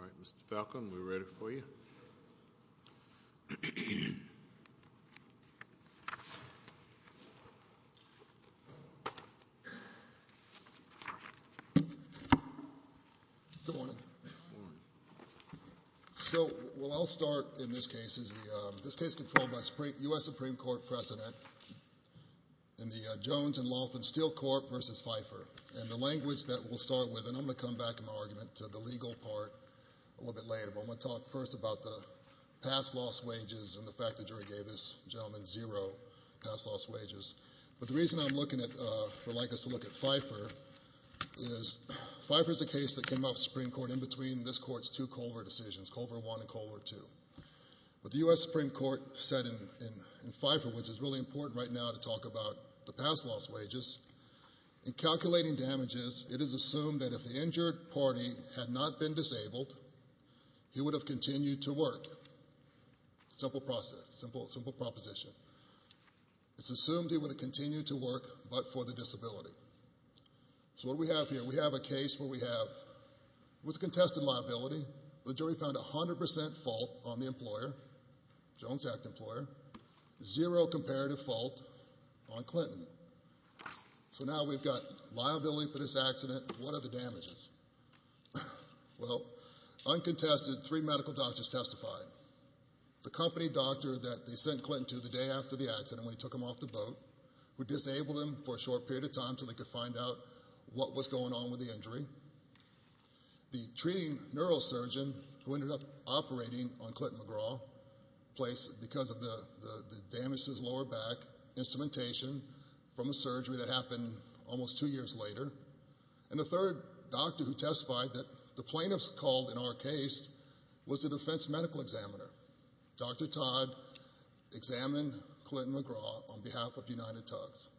All right, Mr. Falcon, we're ready for you. So, I'll start in this case, this case is controlled by a U.S. Supreme Court President in the Jones and Laughlin Steel Corp. v. Pfeiffer, and the language that we'll start with, and I'm going to come back in my argument to the legal part a little bit later, but I'm going to talk first about the past loss wages and the fact the jury gave this gentleman zero past loss wages. But the reason I'm looking at, or like us to look at Pfeiffer, is Pfeiffer's a case that came up in the Supreme Court in between this Court's two Colvert decisions, Colvert I and Colvert II. But the U.S. Supreme Court said in Pfeiffer, which is really important right now to talk about the past loss wages, in calculating damages, it is assumed that if the injured party had not been disabled, he would have continued to work. Simple proposition. It's assumed he would have continued to work, but for the disability. So what do we have here? We have a case where we have, with contested liability, the jury found 100% fault on the employer, Jones Act employer, zero comparative fault on Clinton. So now we've got liability for this accident. What are the damages? Well, uncontested, three medical doctors testified. The company doctor that they sent Clinton to the day after the accident when he took him off the boat, who disabled him for a short period of time until they could find out what was going on with the injury. The treating neurosurgeon who ended up operating on Clinton McGraw, because of the damage to his lower back, instrumentation from a surgery that was done. And the third doctor who testified, that the plaintiffs called in our case, was the defense medical examiner. Dr. Todd examined Clinton McGraw on behalf of United Tugs.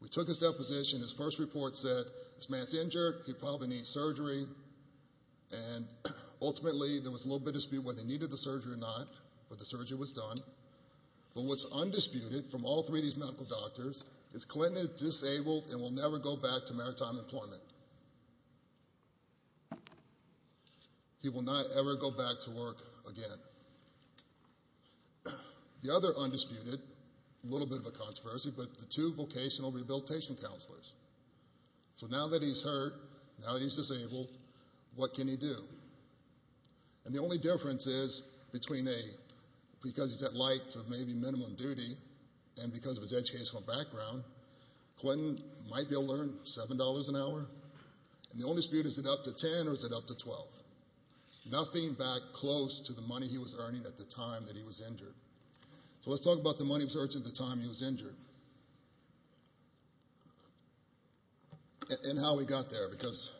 We took his deposition, his first report said, this man's injured, he probably needs surgery, and ultimately there was a little bit of dispute whether he needed the surgery or not, but the surgery was done. But what's undisputed from all three of these medical doctors is he will never go back to maritime employment. He will not ever go back to work again. The other undisputed, a little bit of a controversy, but the two vocational rehabilitation counselors. So now that he's hurt, now that he's disabled, what can he do? And the only difference is between a, because he's at light of maybe minimum duty, and because of his educational background, Clinton might be able to earn $7 an hour. And the only dispute, is it up to $10 or is it up to $12? Nothing back close to the money he was earning at the time that he was injured. So let's talk about the money he was earning at the time he was injured. And how he got there, because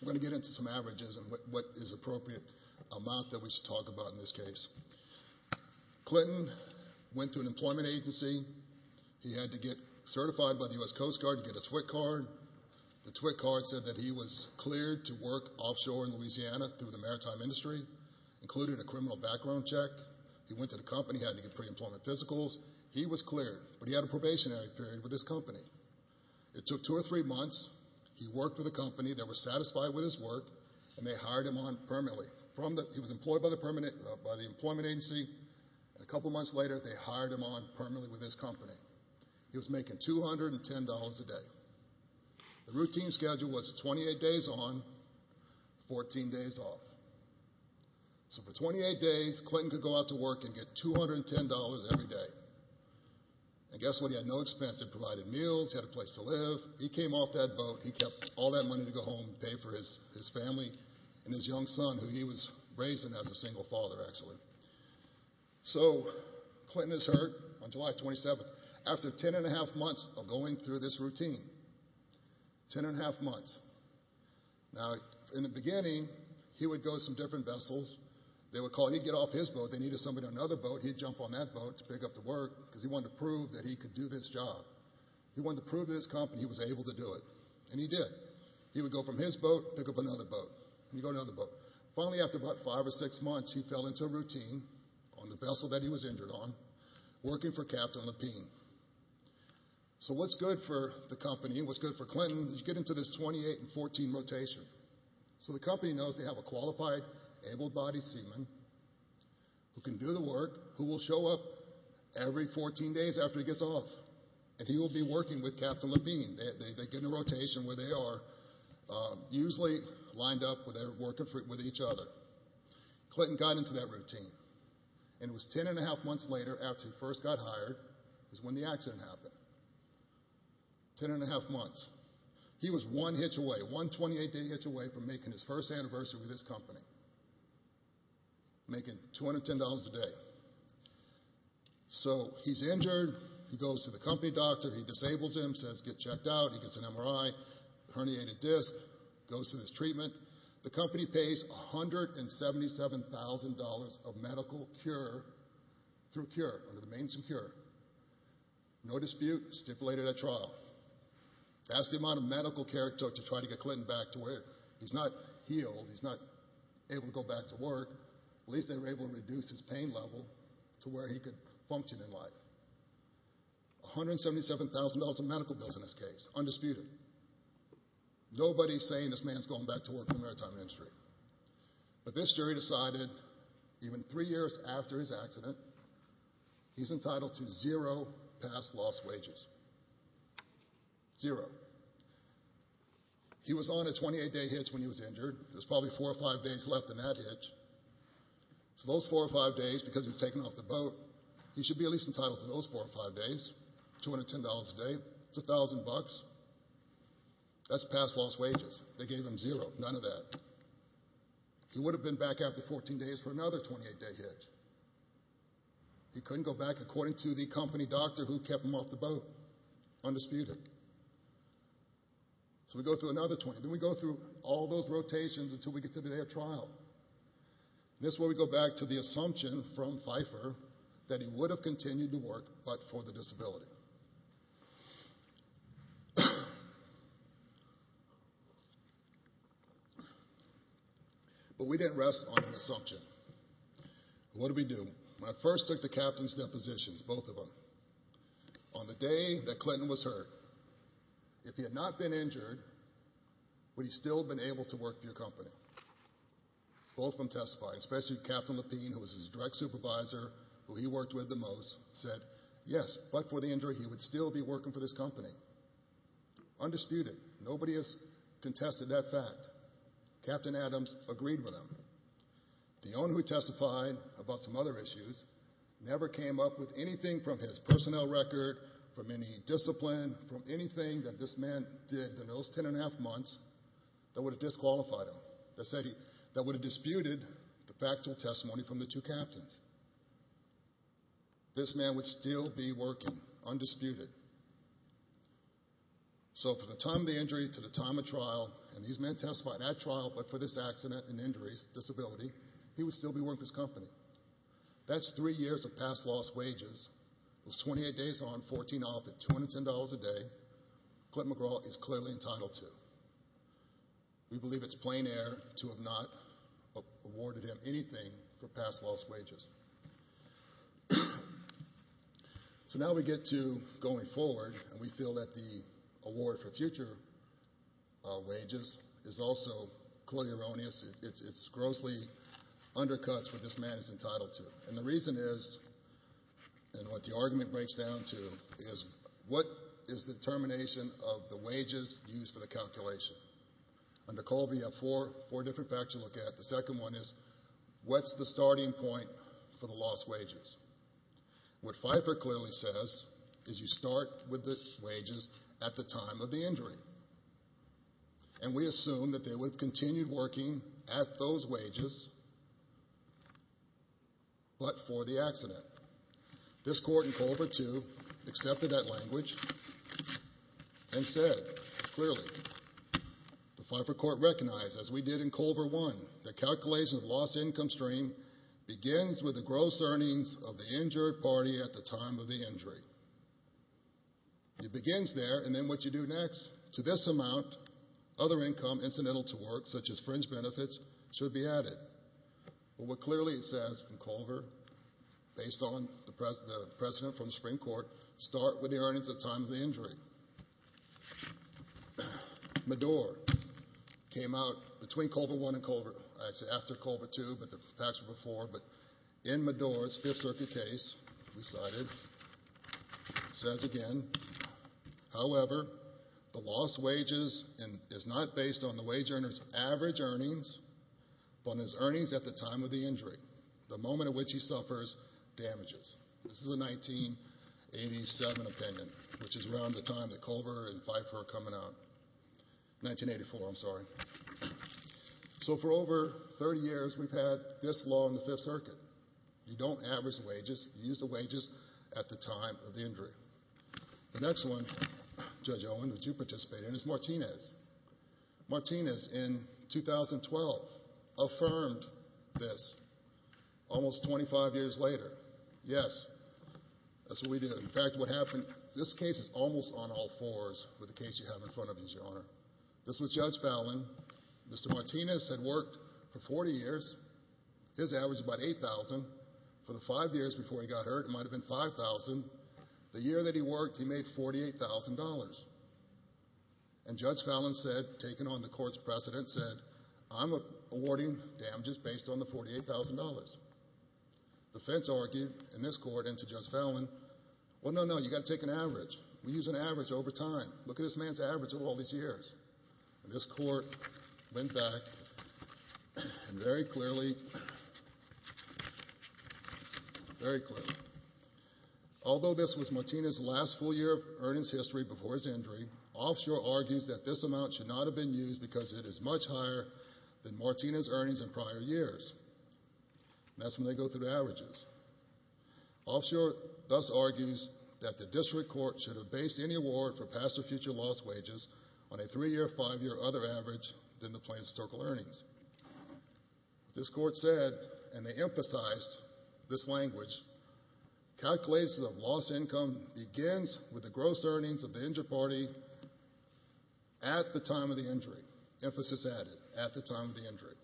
we're going to get into some averages and what is appropriate amount that we should talk about in this case. Clinton went to an employment agency. He had to get certified by the U.S. Coast Guard to get a TWIC card. The TWIC card said that he was cleared to work offshore in Louisiana through the maritime industry, included a criminal background check. He went to the company, had to get pre-employment physicals. He was cleared, but he had a probationary period with his company. It took two or three months. He worked with a company that was satisfied with his work, and they hired him on permanently. He was employed by the employment agency, and a couple months later, they hired him on permanently with his company. He was making $210 a day. The routine schedule was 28 days on, 14 days off. So for 28 days, Clinton could go out to work and get $210 every day. And guess what? He had no expense. They provided meals, he had a place to live. He came off that boat, he kept all that money to go home and pay for his family and his young son, who he was raising as a single father, actually. So, Clinton is hurt on July 27th. After ten and a half months of going through this routine, ten and a half months. Now, in the beginning, he would go to some different vessels. They would call, he'd get off his boat, they needed somebody on another boat, he'd jump on that boat to pick up the work, because he wanted to prove that he could do this job. He wanted to prove to his company that he was able to do it. And he did. He would go from his boat, pick up another boat, and he'd go to another boat. Finally, after about five or six months, he fell into a routine on the vessel that he was injured on, working for Captain Lapine. So what's good for the company, what's good for Clinton, is you get into this 28 and 14 rotation. So the company knows they have a days after he gets off, and he will be working with Captain Lapine. They get in a rotation where they are, usually lined up where they're working with each other. Clinton got into that routine, and it was ten and a half months later, after he first got hired, is when the accident happened. Ten and a half months. He was one hitch away, one 28-day hitch away from making his first anniversary with his company. Making $210 a day. So he's injured, he goes to the company doctor, he disables him, says get checked out, he gets an MRI, herniated disc, goes through this treatment. The company pays $177,000 of medical cure through cure, under the names of cure. No dispute, stipulated at trial. That's the amount of medical care it took to try to get Clinton back to where he's not healed, he's not able to go back to work. At least they were able to reduce his pain level to where he could function in life. $177,000 of medical bills in this case, undisputed. Nobody's saying this man's going back to work in the maritime industry. But this jury decided, even three years after his accident, he's entitled to zero past lost wages. Zero. And that's the truth. He was on a 28-day hitch when he was injured. There's probably four or five days left in that hitch. So those four or five days, because he was taken off the boat, he should be at least entitled to those four or five days. $210 a day, that's $1,000. That's past lost wages. They gave him zero, none of that. He would have been back after 14 days for another 28-day hitch. He couldn't go back according to the company doctor who So we go through another 20. Then we go through all those rotations until we get to the day of trial. And this is where we go back to the assumption from Pfeiffer that he would have continued to work, but for the disability. But we didn't rest on the assumption. What did we do? When I first took the captain's depositions, both of them, on the day that he was injured, would he still have been able to work for your company? Both of them testified, especially Captain Lapine, who was his direct supervisor, who he worked with the most, said, yes, but for the injury, he would still be working for this company. Undisputed. Nobody has contested that fact. Captain Adams agreed with him. The owner who testified about some other issues never came up with anything from his personnel record, from any discipline, from anything that this man did in those 10 and a half months that would have disqualified him, that would have disputed the factual testimony from the two captains. This man would still be working, undisputed. So from the time of the injury to the time of trial, and these men testified at trial, but for this accident and injuries, disability, he would still be working for his company. That's three years of past lost wages. Those 28 days on 14 off at $210 a day, Clint McGraw is clearly entitled to. We believe it's plain air to have not awarded him anything for past lost wages. So now we get to going forward, and we feel that the award for future wages is also clearly erroneous. It's grossly undercuts what this man is entitled to. And the reason is, and what the argument breaks down to, is what is the determination of the wages used for the calculation? Under Colby, you have four different facts to look at. The second one is, what's the starting point for the lost wages? What Pfeiffer clearly says is you start with the wages at the time of the injury. And we assume that they would continue working at those wages, but for the accident. This court in Culver 2 accepted that language and said clearly, the Pfeiffer Court recognized, as we did in Culver 1, the calculation of lost income stream begins with the gross earnings of the injured party at the time of the injury. It begins there, and then what you do next? To this amount, other income incidental to work, such as fringe benefits, should be added. But what clearly it says in Culver, based on the precedent from the Supreme Court, start with the earnings at the time of the injury. Madour came out between Culver 1 and Culver, I'd say after Culver 2, but the facts were before, but in says again, however, the lost wages is not based on the wage earner's average earnings, but on his earnings at the time of the injury, the moment at which he suffers damages. This is a 1987 opinion, which is around the time that Culver and Pfeiffer are coming out. 1984, I'm sorry. So for over 30 years, we've had this law in the Fifth Circuit. You don't average wages. You use the wages at the time of the injury. The next one, Judge Owen, which you participated in, is Martinez. Martinez, in 2012, affirmed this almost 25 years later. Yes, that's what we do. In fact, what happened, this case is almost on all fours with the case you have in front of you, Your Honor. This was Judge Fallon. Mr. Martinez had worked for 40 years. His average was about $8,000. For the five years before he got hurt, it might have been $5,000. The year that he worked, he made $48,000. And Judge Fallon said, taking on the court's precedent, said, I'm awarding damages based on the $48,000. The defense argued in this court and to Judge Fallon, well, no, no, you've got to take an average. We use an average over time. Look at this man's average over all these years. And this is very clearly, very clearly. Although this was Martinez's last full year of earnings history before his injury, Offshore argues that this amount should not have been used because it is much higher than Martinez's earnings in prior years. That's when they go through the averages. Offshore thus argues that the district court should have based any award for past or future loss wages on a three-year, five-year other average than the plaintiff's total earnings. This court said, and they emphasized this language, calculations of lost income begins with the gross earnings of the injured party at the time of the injury. Emphasis added, at the time of the injury.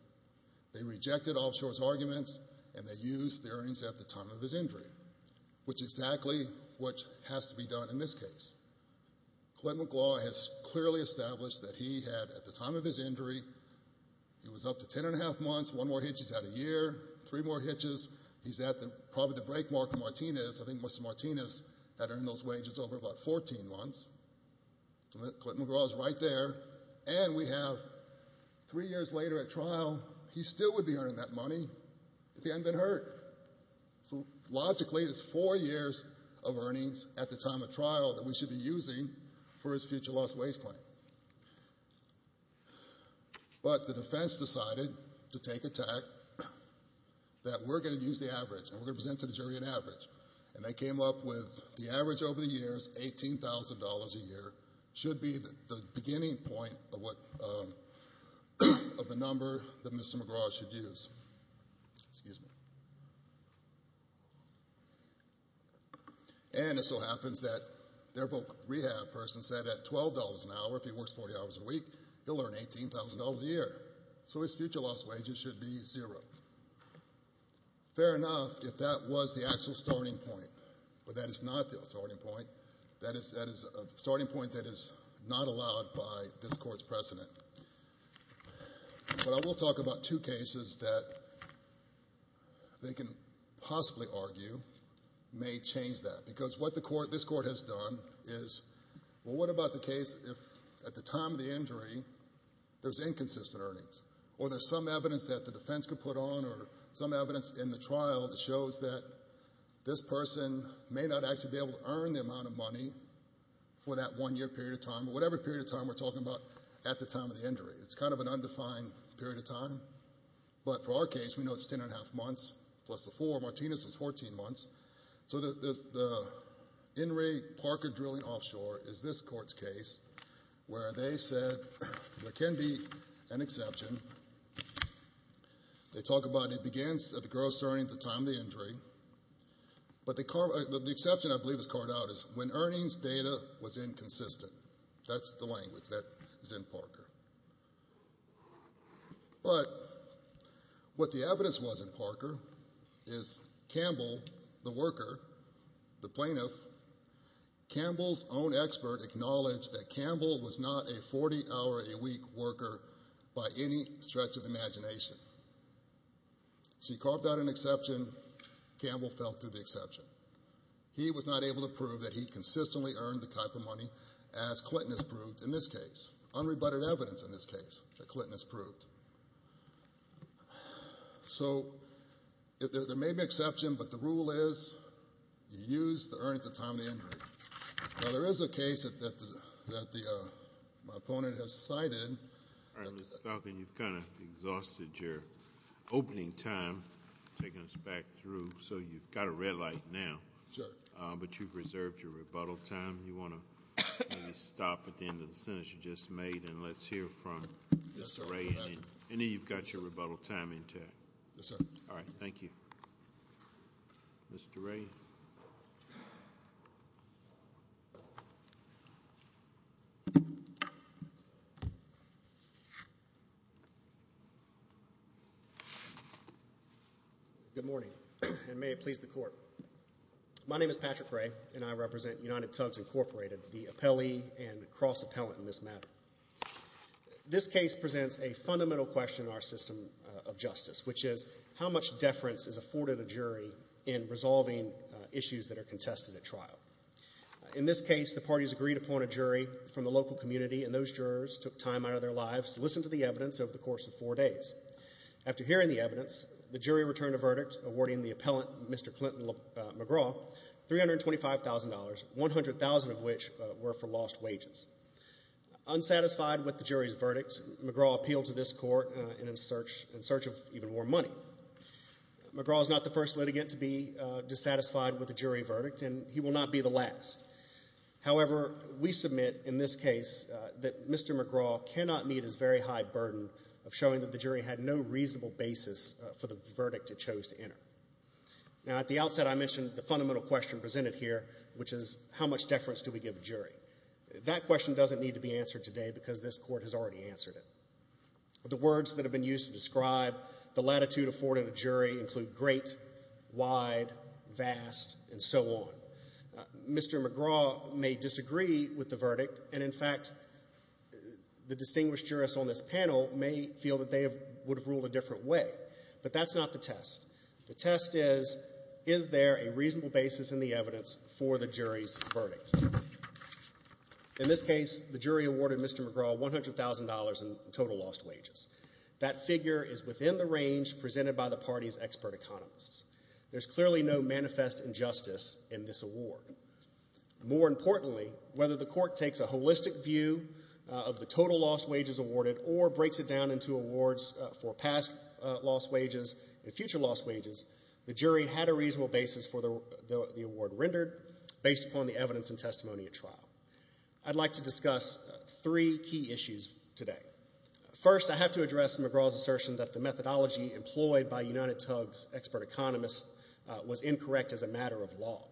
They rejected Offshore's arguments and they used the earnings at the time of his injury, which is exactly what has to be done in this case. Clinton McGraw has clearly established that he had, at the time of his injury, he was up to ten and a half months, one more hitch, he's had a year, three more hitches, he's at probably the break mark of Martinez. I think most of Martinez had earned those wages over about 14 months. Clinton McGraw is right there. And we have three years later at trial, he still would be earning that money if he hadn't been hurt. So logically, it's four years of earnings at the time of trial that we should be using for his future loss wage claim. But the defense decided to take attack that we're going to use the average and we're going to present to the jury an average. And they came up with the average over the years, $18,000 a year, should be the beginning point of what, of the number that Mr. McGraw should use. Excuse me. And it so happens that their rehab person said that $12 an hour, if he works 40 hours a week, he'll earn $18,000 a year. So his future loss wages should be zero. Fair enough if that was the actual starting point. But that is not the starting point. That is a starting point that is not allowed by this court's precedent. But I will talk about two cases that they can possibly argue may change that. Because what this court has done is, well, what about the case if at the time of the injury, there's inconsistent earnings? Or there's some evidence that the defense could put on or some evidence in the trial that shows that this person may not actually be able to earn the amount of money for that one year period of time, or whatever period of time we're talking about at the time of the injury. But for our case, we know it's ten and a half months, plus the four. Martinez was 14 months. So the In re Parker drilling offshore is this court's case where they said there can be an exception. They talk about it begins at the gross earnings at the time of the injury. But the exception I believe is carved out is when earnings data was inconsistent. That's the language that is in Parker. But what the evidence was in Parker is Campbell, the worker, the plaintiff, Campbell's own expert acknowledged that Campbell was not a 40-hour-a-week worker by any stretch of imagination. So he carved out an exception. Campbell fell through the exception. He was not able to prove that he consistently earned the type of money as Clinton has proved in this case, unrebutted evidence in this case that Clinton has proved. So there may be an exception, but the rule is you use the earnings at the time of the injury. Now there is a case that my opponent has cited. All right, Mr. Falcon, you've kind of exhausted your opening time, taking us back through, so you've got a red light now, but you've reserved your rebuttal time. You want to stop at the end of the sentence you just made, and let's hear from Mr. Ray, and then you've got your rebuttal time intact. All right, thank you. Mr. Ray. Good morning, and may it please the Court. My name is Patrick Ray, and I represent United Tubbs Incorporated, the appellee and cross-appellant in this matter. This case presents a fundamental question in our system of justice, which is how much In this case, the parties agreed upon a jury from the local community, and those jurors took time out of their lives to listen to the evidence over the course of four days. After hearing the evidence, the jury returned a verdict awarding the appellant, Mr. Clinton McGraw, $325,000, $100,000 of which were for lost wages. Unsatisfied with the jury's verdict, McGraw appealed to this Court in search of even more money. McGraw is not the first litigant to be dissatisfied with a jury verdict, and he will not be the last. However, we submit in this case that Mr. McGraw cannot meet his very high burden of showing that the jury had no reasonable basis for the verdict it chose to enter. Now, at the outset, I mentioned the fundamental question presented here, which is how much deference do we give a jury? That question doesn't need to be answered today because this Court has already answered it. The words that have been used to describe the latitude afforded a jury include great, wide, vast, and so on. Mr. McGraw may disagree with the verdict, and, in fact, the distinguished jurists on this panel may feel that they would have ruled a different way, but that's not the test. The test is, is there a reasonable basis in the evidence for the jury's verdict? In this case, the jury awarded Mr. McGraw $100,000 in total lost wages. That figure is within the range presented by the party's expert economists. There's clearly no manifest injustice in this award. More importantly, whether the Court takes a holistic view of the total lost wages awarded or breaks it down into awards for past lost wages and future lost wages, the jury had a reasonable basis for the award rendered based upon the evidence and testimony at trial. I'd like to discuss three key issues today. First, I have to address McGraw's assertion that the methodology employed by UnitedTUG's expert economists was incorrect as a matter of law.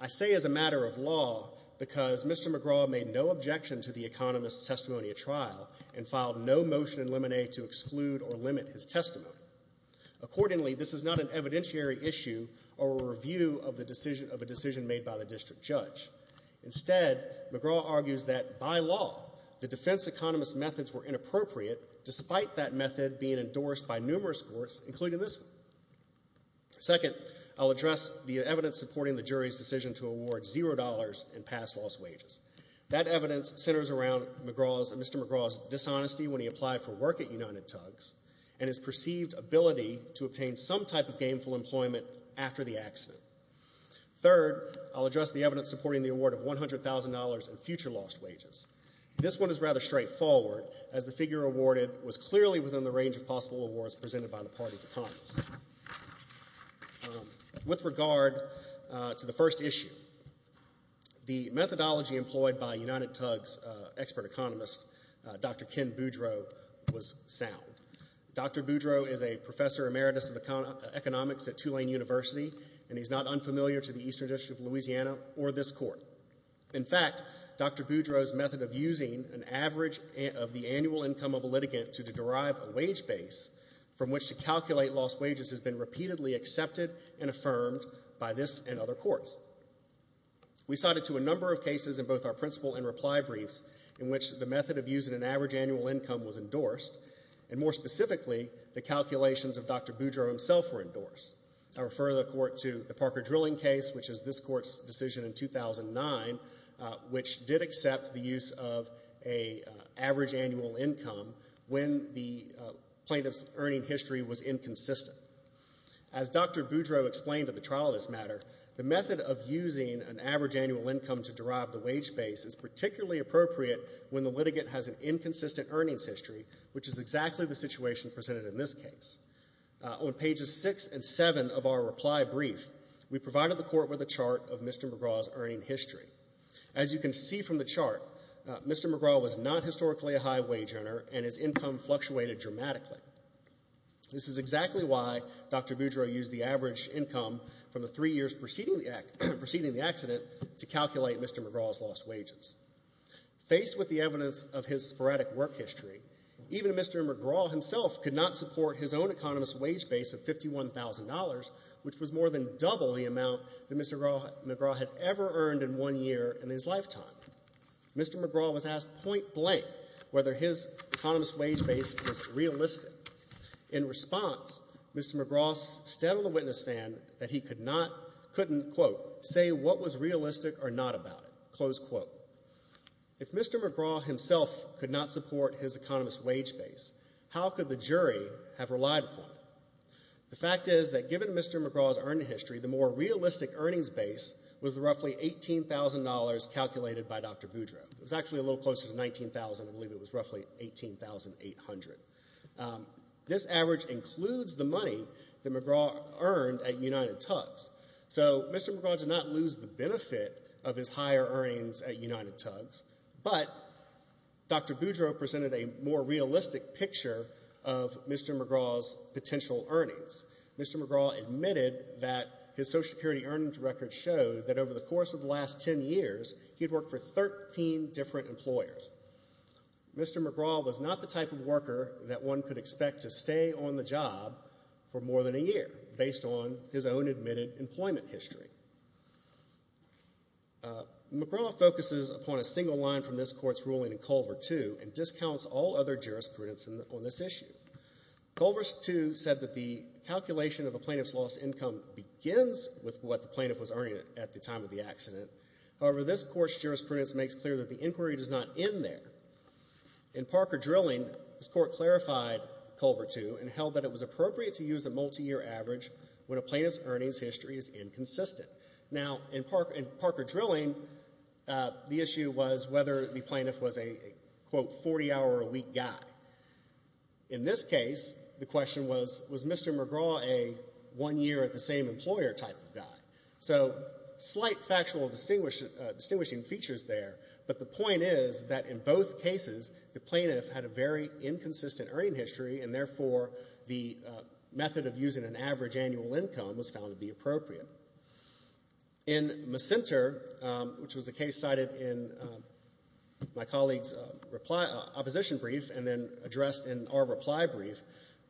I say as a matter of law because Mr. McGraw made no objection to the economist's testimony at trial and filed no motion in limine to exclude or limit his testimony. Accordingly, this is not an evidentiary issue or a review of a decision made by the district judge. Instead, McGraw argues that, by law, the defense economist's methods were inappropriate despite that method being endorsed by numerous courts, including this one. Second, I'll address the evidence supporting the jury's decision to award $0 in past lost wages. That evidence centers around Mr. McGraw's dishonesty when he applied for work at UnitedTUG and his perceived ability to obtain some type of gainful employment after the accident. Third, I'll address the evidence supporting the award of $100,000 in future lost wages. This one is rather straightforward, as the figure awarded was clearly within the range of possible awards presented by the party's economists. With regard to the first issue, the methodology employed by UnitedTUG's expert economist, Dr. Ken Boudreau, was sound. Dr. Boudreau is a professor emeritus of economics at Tulane University, and he's not unfamiliar to the Eastern District of Louisiana or this court. In fact, Dr. Boudreau's method of using an average of the annual income of a litigant to derive a wage base from which to calculate lost wages has been repeatedly accepted and affirmed by this and other courts. We cited to a number of cases in both our principle and reply briefs in which the method of using an average annual income was endorsed, and more specifically, the calculations of Dr. Boudreau himself were endorsed. I refer the court to the Parker drilling case, which is this court's decision in 2009, which did accept the use of an average annual income when the plaintiff's earning history was inconsistent. As Dr. Boudreau explained at the trial of this matter, the method of using an average annual income to derive the wage base is particularly appropriate when the litigant has an On pages 6 and 7 of our reply brief, we provided the court with a chart of Mr. McGraw's earning history. As you can see from the chart, Mr. McGraw was not historically a high wage earner, and his income fluctuated dramatically. This is exactly why Dr. Boudreau used the average income from the three years preceding the accident to calculate Mr. McGraw's lost wages. Faced with the evidence of his sporadic work history, even Mr. McGraw himself could not support his own economist wage base of $51,000, which was more than double the amount that Mr. McGraw had ever earned in one year in his lifetime. Mr. McGraw was asked point blank whether his economist wage base was realistic. In response, Mr. McGraw stood on the witness stand that he could not, couldn't, quote, say what was realistic or not about it, close quote. If Mr. McGraw himself could not support his economist wage base, how could the jury have relied upon it? The fact is that given Mr. McGraw's earning history, the more realistic earnings base was roughly $18,000 calculated by Dr. Boudreau. It was actually a little closer to $19,000. I believe it was roughly $18,800. This average includes the money that McGraw earned at United Tugs. So Mr. McGraw did not lose the benefit of his higher earnings at United Tugs, but Dr. Boudreau presented a more realistic picture of Mr. McGraw's potential earnings. Mr. McGraw admitted that his Social Security earnings record showed that over the course of the last 10 years, he'd worked for 13 different employers. Mr. McGraw was not the type of worker that one could expect to stay on the job for more than a year based on his own admitted employment history. McGraw focuses upon a single line from this Court's ruling in Culver II and discounts all other jurisprudence on this issue. Culver II said that the calculation of a plaintiff's lost income begins with what the plaintiff was earning at the time of the accident. However, this Court's jurisprudence makes clear that the inquiry does not end there. In Parker Drilling, this Court clarified Culver II and held that it was appropriate to use a multiyear average when a plaintiff's earnings history is inconsistent. Now, in Parker Drilling, the issue was whether the plaintiff was a, quote, 40-hour-a-week guy. In this case, the question was, was Mr. McGraw a one-year-at-the-same-employer type of guy? So slight factual distinguishing features there, but the point is that in both cases, the plaintiff had a very inconsistent earnings history, and therefore the method of using an average annual income was found to be appropriate. In Macenter, which was a case cited in my colleague's opposition brief and then addressed in our reply brief,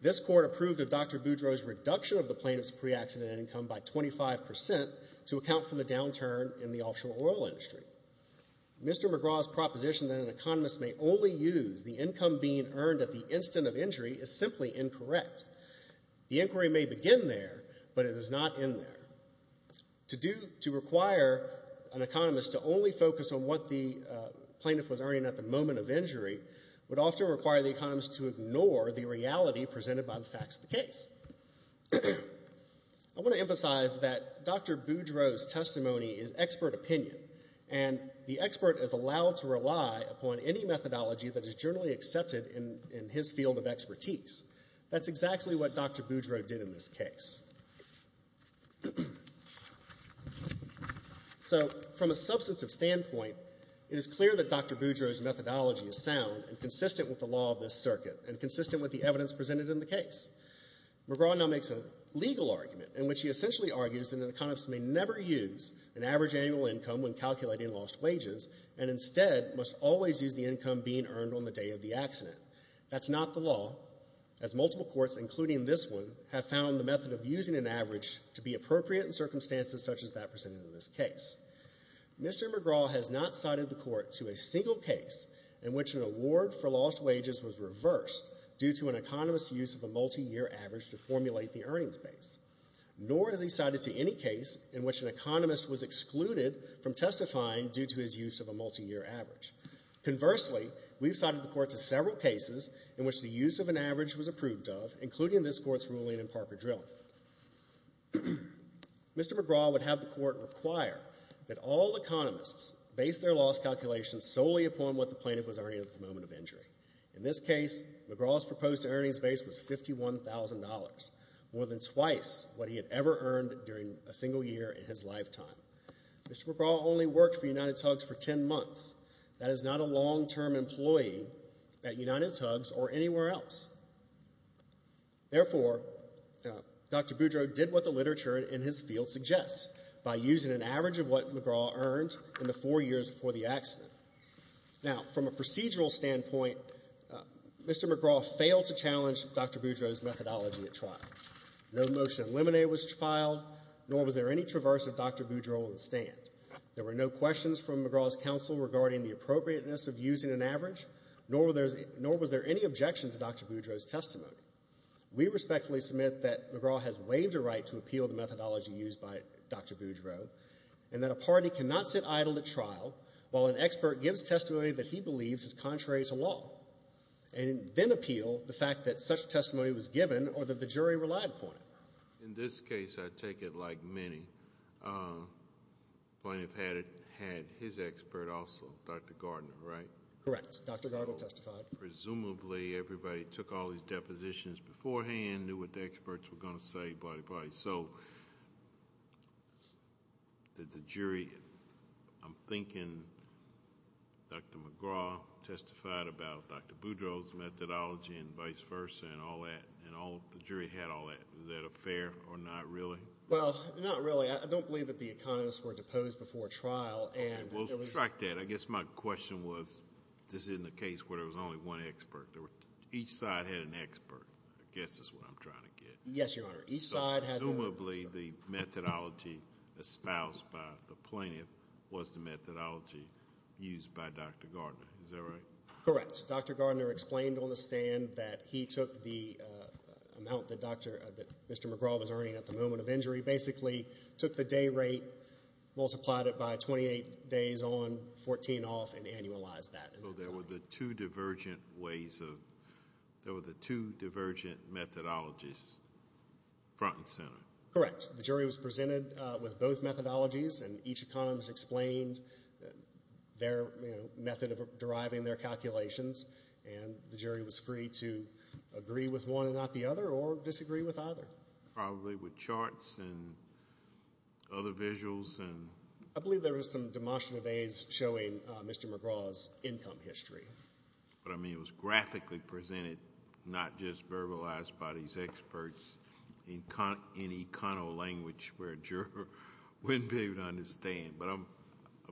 this Court approved of Dr. Boudreau's reduction of the plaintiff's pre-accident income by 25 percent to account for the downturn in the offshore oil industry. Mr. McGraw's proposition that an economist may only use the income being earned at the instant of injury is simply incorrect. The inquiry may begin there, but it is not in there. To require an economist to only focus on what the plaintiff was earning at the moment of injury would often require the economist to ignore the reality presented by the facts of the case. I want to emphasize that Dr. Boudreau's testimony is expert opinion, and the expert is allowed to rely upon any methodology that is generally accepted in his field of expertise. That's exactly what Dr. Boudreau did in this case. So from a substantive standpoint, it is clear that Dr. Boudreau's methodology is sound and consistent with the law of this circuit and consistent with the evidence presented in the case. McGraw now makes a legal argument in which he essentially argues that an economist may never use an average annual income when calculating lost wages and instead must always use the income being earned on the day of the accident. That's not the law, as multiple courts, including this one, have found the method of using an average to be appropriate in circumstances such as that presented in this case. Mr. McGraw has not cited the court to a single case in which an award for lost wages was reversed due to an economist's use of a multiyear average to formulate the earnings base, nor has he cited to any case in which an economist was excluded from testifying due to his use of a multiyear average. Conversely, we've cited the court to several cases in which the use of an average was approved of, including this Court's ruling in Parker Drilling. Mr. McGraw would have the court require that all economists base their loss calculations solely upon what the plaintiff was earning at the moment of injury. In this case, McGraw's proposed earnings base was $51,000, more than twice what he had ever earned during a single year in his lifetime. Mr. McGraw only worked for UnitedTUGS for 10 months. That is not a long-term employee at UnitedTUGS or anywhere else. Therefore, Dr. Boudreau did what the literature in his field suggests by using an average of what McGraw earned in the four years before the trial. From a procedural standpoint, Mr. McGraw failed to challenge Dr. Boudreau's methodology at trial. No motion eliminated was filed, nor was there any traverse of Dr. Boudreau in the stand. There were no questions from McGraw's counsel regarding the appropriateness of using an average, nor was there any objection to Dr. Boudreau's testimony. We respectfully submit that McGraw has waived a right to appeal the methodology used by Dr. Boudreau, and that a party cannot sit idle at trial while an expert gives testimony that he believes is contrary to law, and then appeal the fact that such testimony was given or that the jury relied upon it. In this case, I take it like many. The plaintiff had his expert also, Dr. Gardner, right? Correct. Dr. Gardner testified. Presumably, everybody took all these depositions beforehand, knew what the experts were going to say, so did the jury—I'm thinking Dr. McGraw testified about Dr. Boudreau's methodology and vice versa and all that, and the jury had all that. Is that a fair or not really? Well, not really. I don't believe that the economists were deposed before trial. We'll subtract that. I guess my question was, this isn't a case where there was only one expert. Each side had an expert, I guess is what I'm trying to get. Yes, Your Honor. So, presumably, the methodology espoused by the plaintiff was the methodology used by Dr. Gardner. Is that right? Correct. Dr. Gardner explained on the stand that he took the amount that Mr. McGraw was earning at the moment of injury, basically took the day rate, multiplied it by 28 days on, 14 off, and annualized that. So there were the two divergent ways of—there were the two divergent methodologies, front and center. Correct. The jury was presented with both methodologies, and each economist explained their method of deriving their calculations, and the jury was free to agree with one and not the other or disagree with either. Probably with charts and other visuals. I believe there was some demotion of aides showing Mr. McGraw's income history. But, I mean, it was graphically presented, not just verbalized by these experts, in econo-language where a juror wouldn't be able to understand. But I'm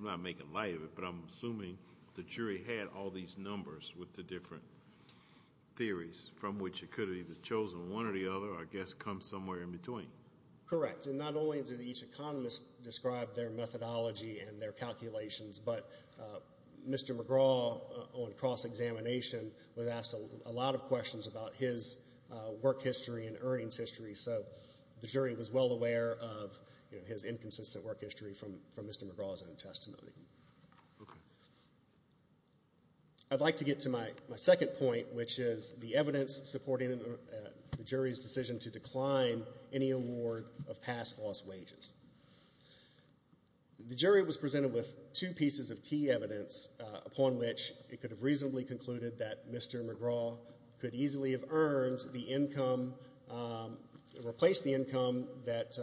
not making light of it, but I'm assuming the jury had all these numbers with the different theories, from which it could have either chosen one or the other, or I guess come somewhere in between. Correct. And not only did each economist describe their methodology and their calculations, but Mr. McGraw, on cross-examination, was asked a lot of questions about his work history and earnings history, so the jury was well aware of his inconsistent work history from Mr. McGraw's own testimony. I'd like to get to my second point, which is the evidence supporting the jury's decision to decline any award of past lost wages. The jury was presented with two pieces of key evidence upon which it could have reasonably concluded that Mr. McGraw could easily have earned the income, replaced the income that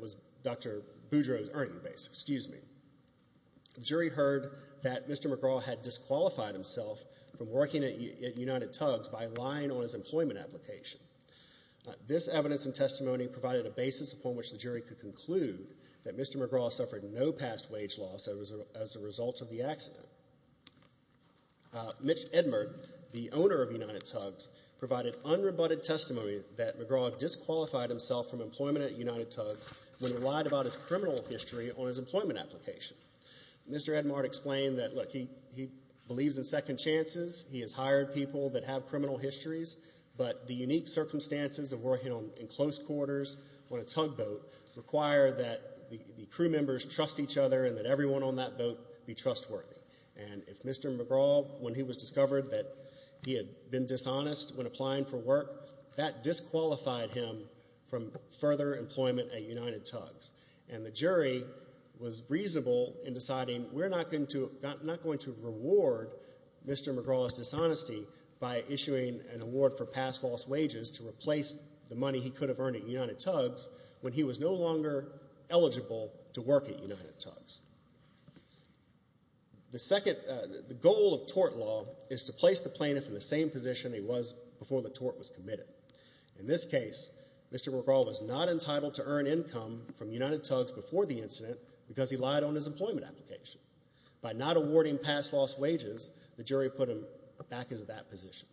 was Dr. Boudreau's earning base. Excuse me. The jury heard that Mr. McGraw had disqualified himself from working at United Tugs by lying on his employment application. This evidence and testimony provided a basis upon which the jury could conclude that Mr. McGraw suffered no past wage loss as a result of the accident. Mitch Edmard, the owner of United Tugs, provided unrebutted testimony that McGraw disqualified himself from employment at United Tugs when he lied about his criminal history on his employment application. Mr. Edmard explained that, look, he believes in second chances. He has hired people that have criminal histories, but the unique circumstances of working in close quarters on a tugboat require that the crew members trust each other and that everyone on that boat be trustworthy. And if Mr. McGraw, when he was discovered that he had been dishonest when applying for work, that disqualified him from further employment at United Tugs. And the jury was reasonable in deciding we're not going to reward Mr. McGraw's dishonesty by issuing an award for past lost wages to replace the money he could have earned at United Tugs when he was no longer eligible to work at United Tugs. The goal of tort law is to place the plaintiff in the same position he was before the tort was committed. In this case, Mr. McGraw was not entitled to earn income from United Tugs before the incident because he lied on his employment application. By not awarding past lost wages, the jury put him back into that position.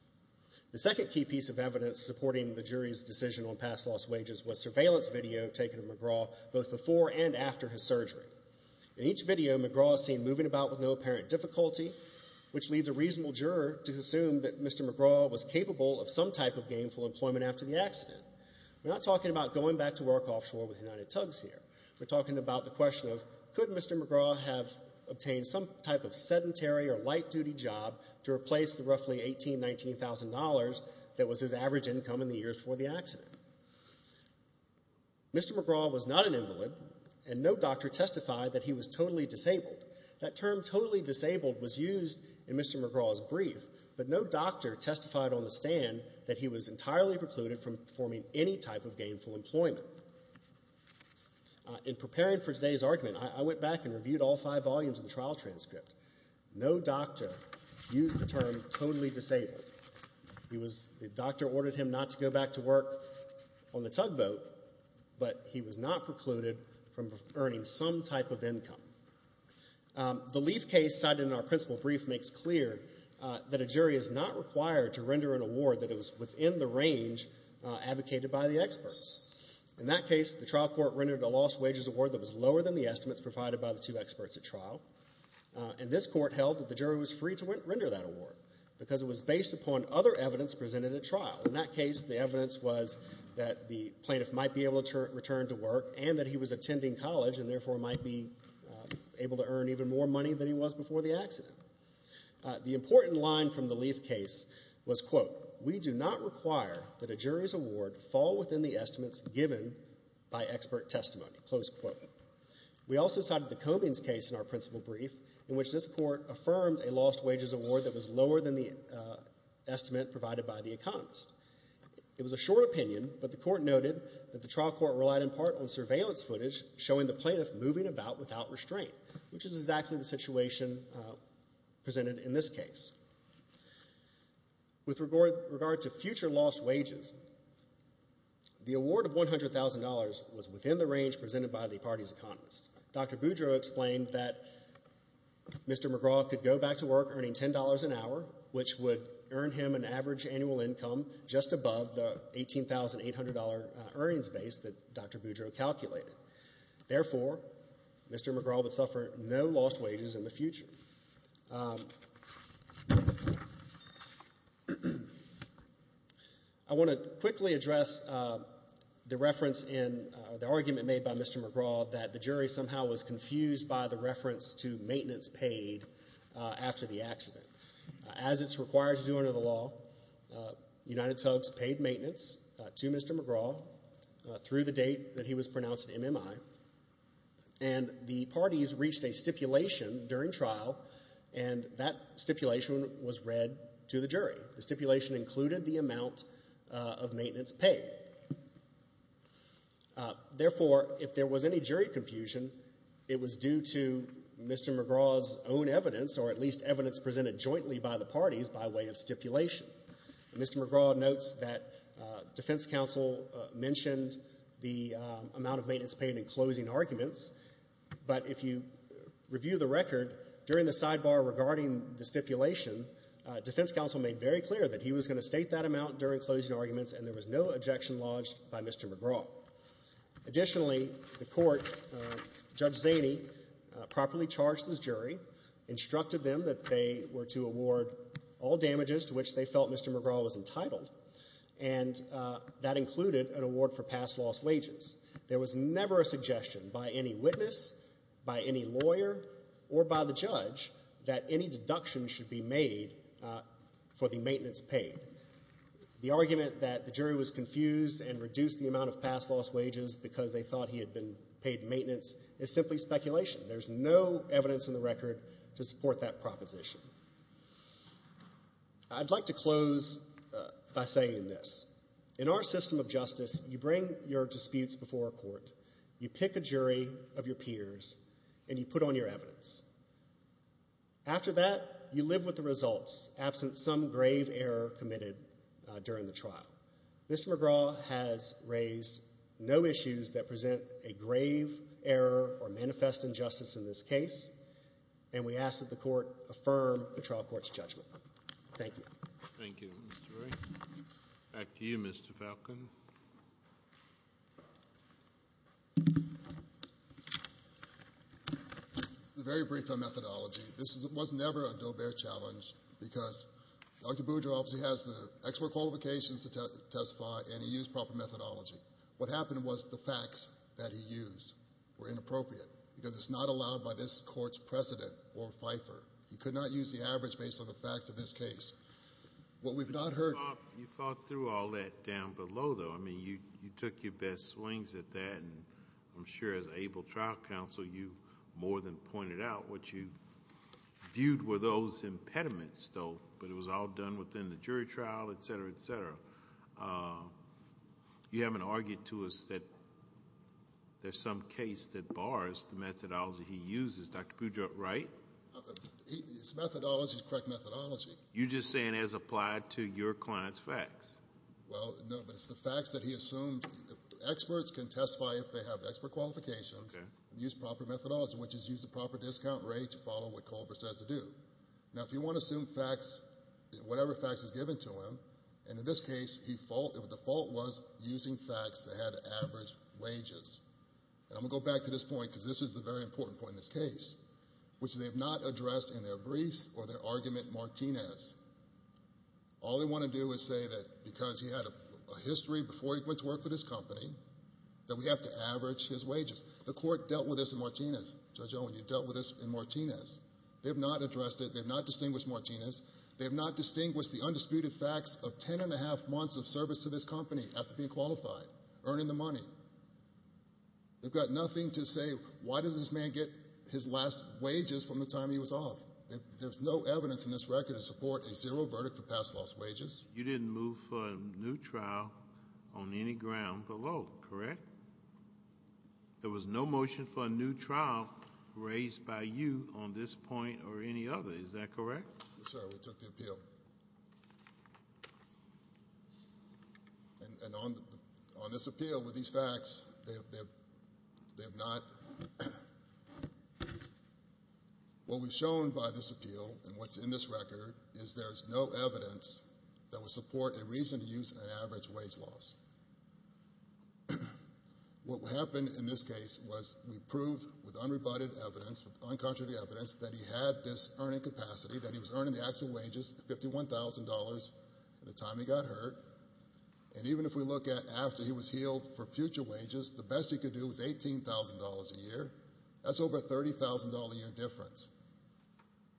The second key piece of evidence supporting the jury's decision on past lost wages was surveillance video taken of McGraw both before and after his surgery. In each video, McGraw is seen moving about with no apparent difficulty, which leads a reasonable juror to assume that Mr. McGraw was capable of some type of gainful employment after the accident. We're not talking about going back to work offshore with United Tugs here. We're talking about the question of could Mr. McGraw have obtained some type of sedentary or light-duty job to replace the roughly $18,000, $19,000 that was his average income in the years before the accident. Mr. McGraw was not an invalid, and no doctor testified that he was totally disabled. That term, totally disabled, was used in Mr. McGraw's brief, but no doctor testified on the stand that he was entirely precluded from performing any type of gainful employment. In preparing for today's argument, I went back and reviewed all five volumes of the trial transcript. No doctor used the term totally disabled. The doctor ordered him not to go back to work on the tugboat, but he was not precluded from earning some type of income. The Leaf case cited in our principal brief makes clear that a jury is not required to render an award that is within the range advocated by the experts. In that case, the trial court rendered a lost wages award that was lower than the estimates provided by the two experts at trial, and this court held that the jury was free to render that award because it was based upon other evidence presented at trial. In that case, the evidence was that the plaintiff might be able to return to work and that he was attending college and therefore might be able to earn even more money than he was before the accident. The important line from the Leaf case was, quote, we do not require that a jury's award fall within the estimates given by expert testimony, close quote. We also cited the Comings case in our principal brief in which this court affirmed a lost wages award that was lower than the estimate provided by the economist. It was a short opinion, but the court noted that the trial court relied in part on surveillance footage showing the plaintiff moving about without restraint, which is exactly the situation presented in this case. With regard to future lost wages, the award of $100,000 was within the range presented by the party's economist. Dr. Boudreaux explained that Mr. McGraw could go back to work earning $10 an hour, which would earn him an average annual income just above the $18,800 earnings base that Dr. Boudreaux calculated. Therefore, Mr. McGraw would suffer no lost wages in the future. I want to quickly address the reference in the argument made by Mr. McGraw that the jury somehow was confused by the reference to maintenance paid after the accident. As it's required to do under the law, United Subs paid maintenance to Mr. McGraw through the date that he was pronounced MMI, and the parties reached a stipulation during trial, and that stipulation was read to the jury. The stipulation included the amount of maintenance paid. Therefore, if there was any jury confusion, it was due to Mr. McGraw's own evidence, or at least evidence presented jointly by the parties by way of stipulation. Mr. McGraw notes that defense counsel mentioned the amount of maintenance paid in closing arguments, but if you review the record, during the sidebar regarding the stipulation, defense counsel made very clear that he was going to state that amount during closing arguments, and there was no objection lodged by Mr. McGraw. Additionally, the court, Judge Zaney, properly charged his jury, instructed them that they were to award all damages to which they felt Mr. McGraw was entitled, and that included an award for past loss wages. There was never a suggestion by any witness, by any lawyer, or by the judge that any deduction should be made for the maintenance paid. The argument that the jury was confused and reduced the amount of past loss wages because they thought he had been paid maintenance is simply speculation. There's no evidence in the record to support that proposition. I'd like to close by saying this. In our system of justice, you bring your disputes before a court, you pick a jury of your peers, and you put on your evidence. After that, you live with the results, absent some grave error committed during the trial. Mr. McGraw has raised no issues that present a grave error or manifest injustice in this case, and we ask that the court affirm the trial court's judgment. Thank you. Thank you, Mr. Wray. Back to you, Mr. Falcon. A very brief methodology. This was never a do-bear challenge because Dr. Boudreau obviously has the expert qualifications to testify, and he used proper methodology. What happened was the facts that he used were inappropriate because it's not allowed by this court's precedent or FIFER. He could not use the average based on the facts of this case. What we've not heard— You fought through all that down below, though. I mean, you took your best swings at that, and I'm sure as able trial counsel you more than pointed out. What you viewed were those impediments, though, but it was all done within the jury trial, et cetera, et cetera. You haven't argued to us that there's some case that bars the methodology he uses. Dr. Boudreau, right? His methodology is correct methodology. You're just saying as applied to your client's facts. Well, no, but it's the facts that he assumed. Experts can testify if they have expert qualifications and use proper methodology, which is use the proper discount rate to follow what Culver says to do. Now, if you want to assume facts, whatever facts is given to him, and in this case the fault was using facts that had average wages. And I'm going to go back to this point because this is the very important point in this case, which they have not addressed in their briefs or their argument Martinez. All they want to do is say that because he had a history before he went to work for this company that we have to average his wages. The court dealt with this in Martinez. Judge Owen, you dealt with this in Martinez. They have not addressed it. They have not distinguished Martinez. They have not distinguished the undisputed facts of ten and a half months of service to this company after being qualified, earning the money. They've got nothing to say why did this man get his last wages from the time he was off. There's no evidence in this record to support a zero verdict for past lost wages. You didn't move for a new trial on any ground below, correct? There was no motion for a new trial raised by you on this point or any other. Is that correct? Yes, sir. We took the appeal. And on this appeal, with these facts, they have not. What we've shown by this appeal and what's in this record is there is no evidence that would support a reason to use an average wage loss. What happened in this case was we proved with unrebutted evidence, with uncontradictory evidence that he had this earning capacity, that he was earning the actual wages, $51,000 at the time he got hurt. And even if we look at after he was healed for future wages, the best he could do was $18,000 a year. That's over a $30,000 a year difference.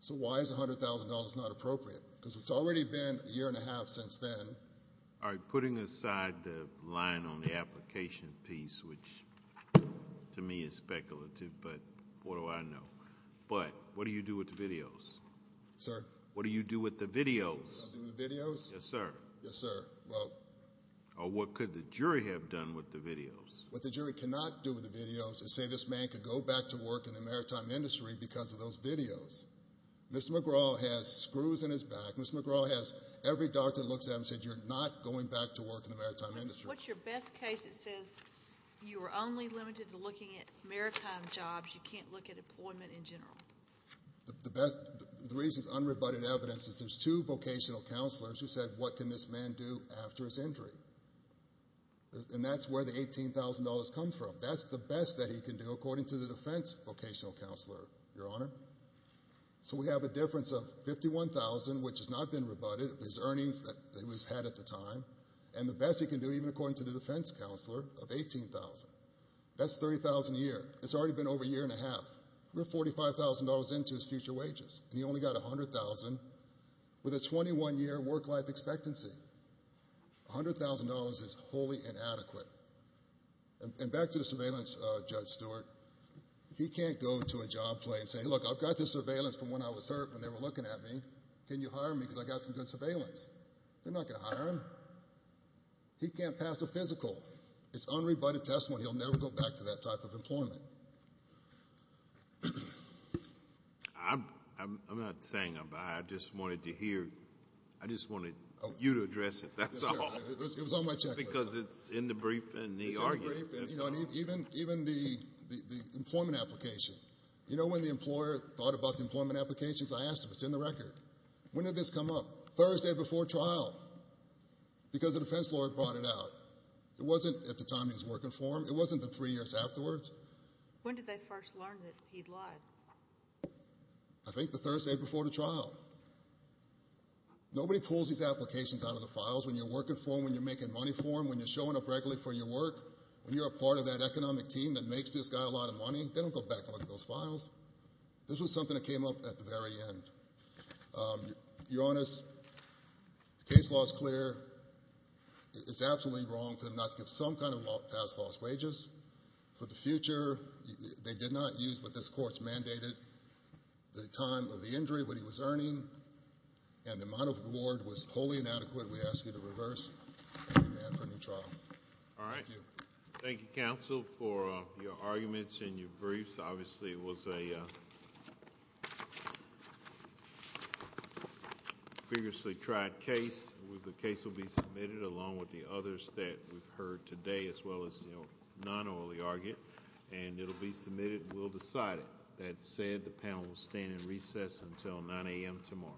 So why is $100,000 not appropriate? Because it's already been a year and a half since then. All right. Putting aside the line on the application piece, which to me is speculative, but what do I know? But what do you do with the videos? Sir? What do you do with the videos? I do the videos? Yes, sir. Yes, sir. Well. Or what could the jury have done with the videos? What the jury cannot do with the videos is say this man could go back to work in the maritime industry because of those videos. Mr. McGraw has screws in his back. Mr. McGraw has every doctor that looks at him and says you're not going back to work in the maritime industry. What's your best case that says you are only limited to looking at maritime jobs, you can't look at employment in general? The reason it's unrebutted evidence is there's two vocational counselors who said what can this man do after his injury? And that's where the $18,000 comes from. That's the best that he can do according to the defense vocational counselor, Your Honor. So we have a difference of $51,000, which has not been rebutted, his earnings that he's had at the time, and the best he can do even according to the defense counselor of $18,000. That's $30,000 a year. It's already been over a year and a half. We're $45,000 into his future wages, and he only got $100,000 with a 21-year work-life expectancy. $100,000 is wholly inadequate. And back to the surveillance, Judge Stewart, he can't go to a job play and say, look, I've got this surveillance from when I was hurt when they were looking at me. Can you hire me because I've got some good surveillance? They're not going to hire him. He can't pass a physical. It's unrebutted testimony. He'll never go back to that type of employment. I'm not saying I'm not. I just wanted to hear. I just wanted you to address it. That's all. It was on my checklist. Because it's in the brief and the argument. It's in the brief and even the employment application. You know when the employer thought about the employment applications? I asked him. It's in the record. When did this come up? Thursday before trial because the defense lawyer brought it out. It wasn't at the time he was working for him. It wasn't the three years afterwards. When did they first learn that he'd lied? I think the Thursday before the trial. Nobody pulls these applications out of the files when you're working for him, when you're making money for him, when you're showing up regularly for your work, when you're a part of that economic team that makes this guy a lot of money. They don't go back and look at those files. This was something that came up at the very end. Your Honor, the case law is clear. It's absolutely wrong for them not to give some kind of past lost wages. For the future, they did not use what this court's mandated, the time of the injury, what he was earning, and the amount of reward was wholly inadequate. We ask you to reverse and demand for a new trial. All right. Thank you. Thank you, counsel, for your arguments and your briefs. Obviously, it was a previously tried case. The case will be submitted along with the others that we've heard today, as well as non-early argument. It'll be submitted and we'll decide it. That said, the panel will stand in recess until 9 a.m. tomorrow.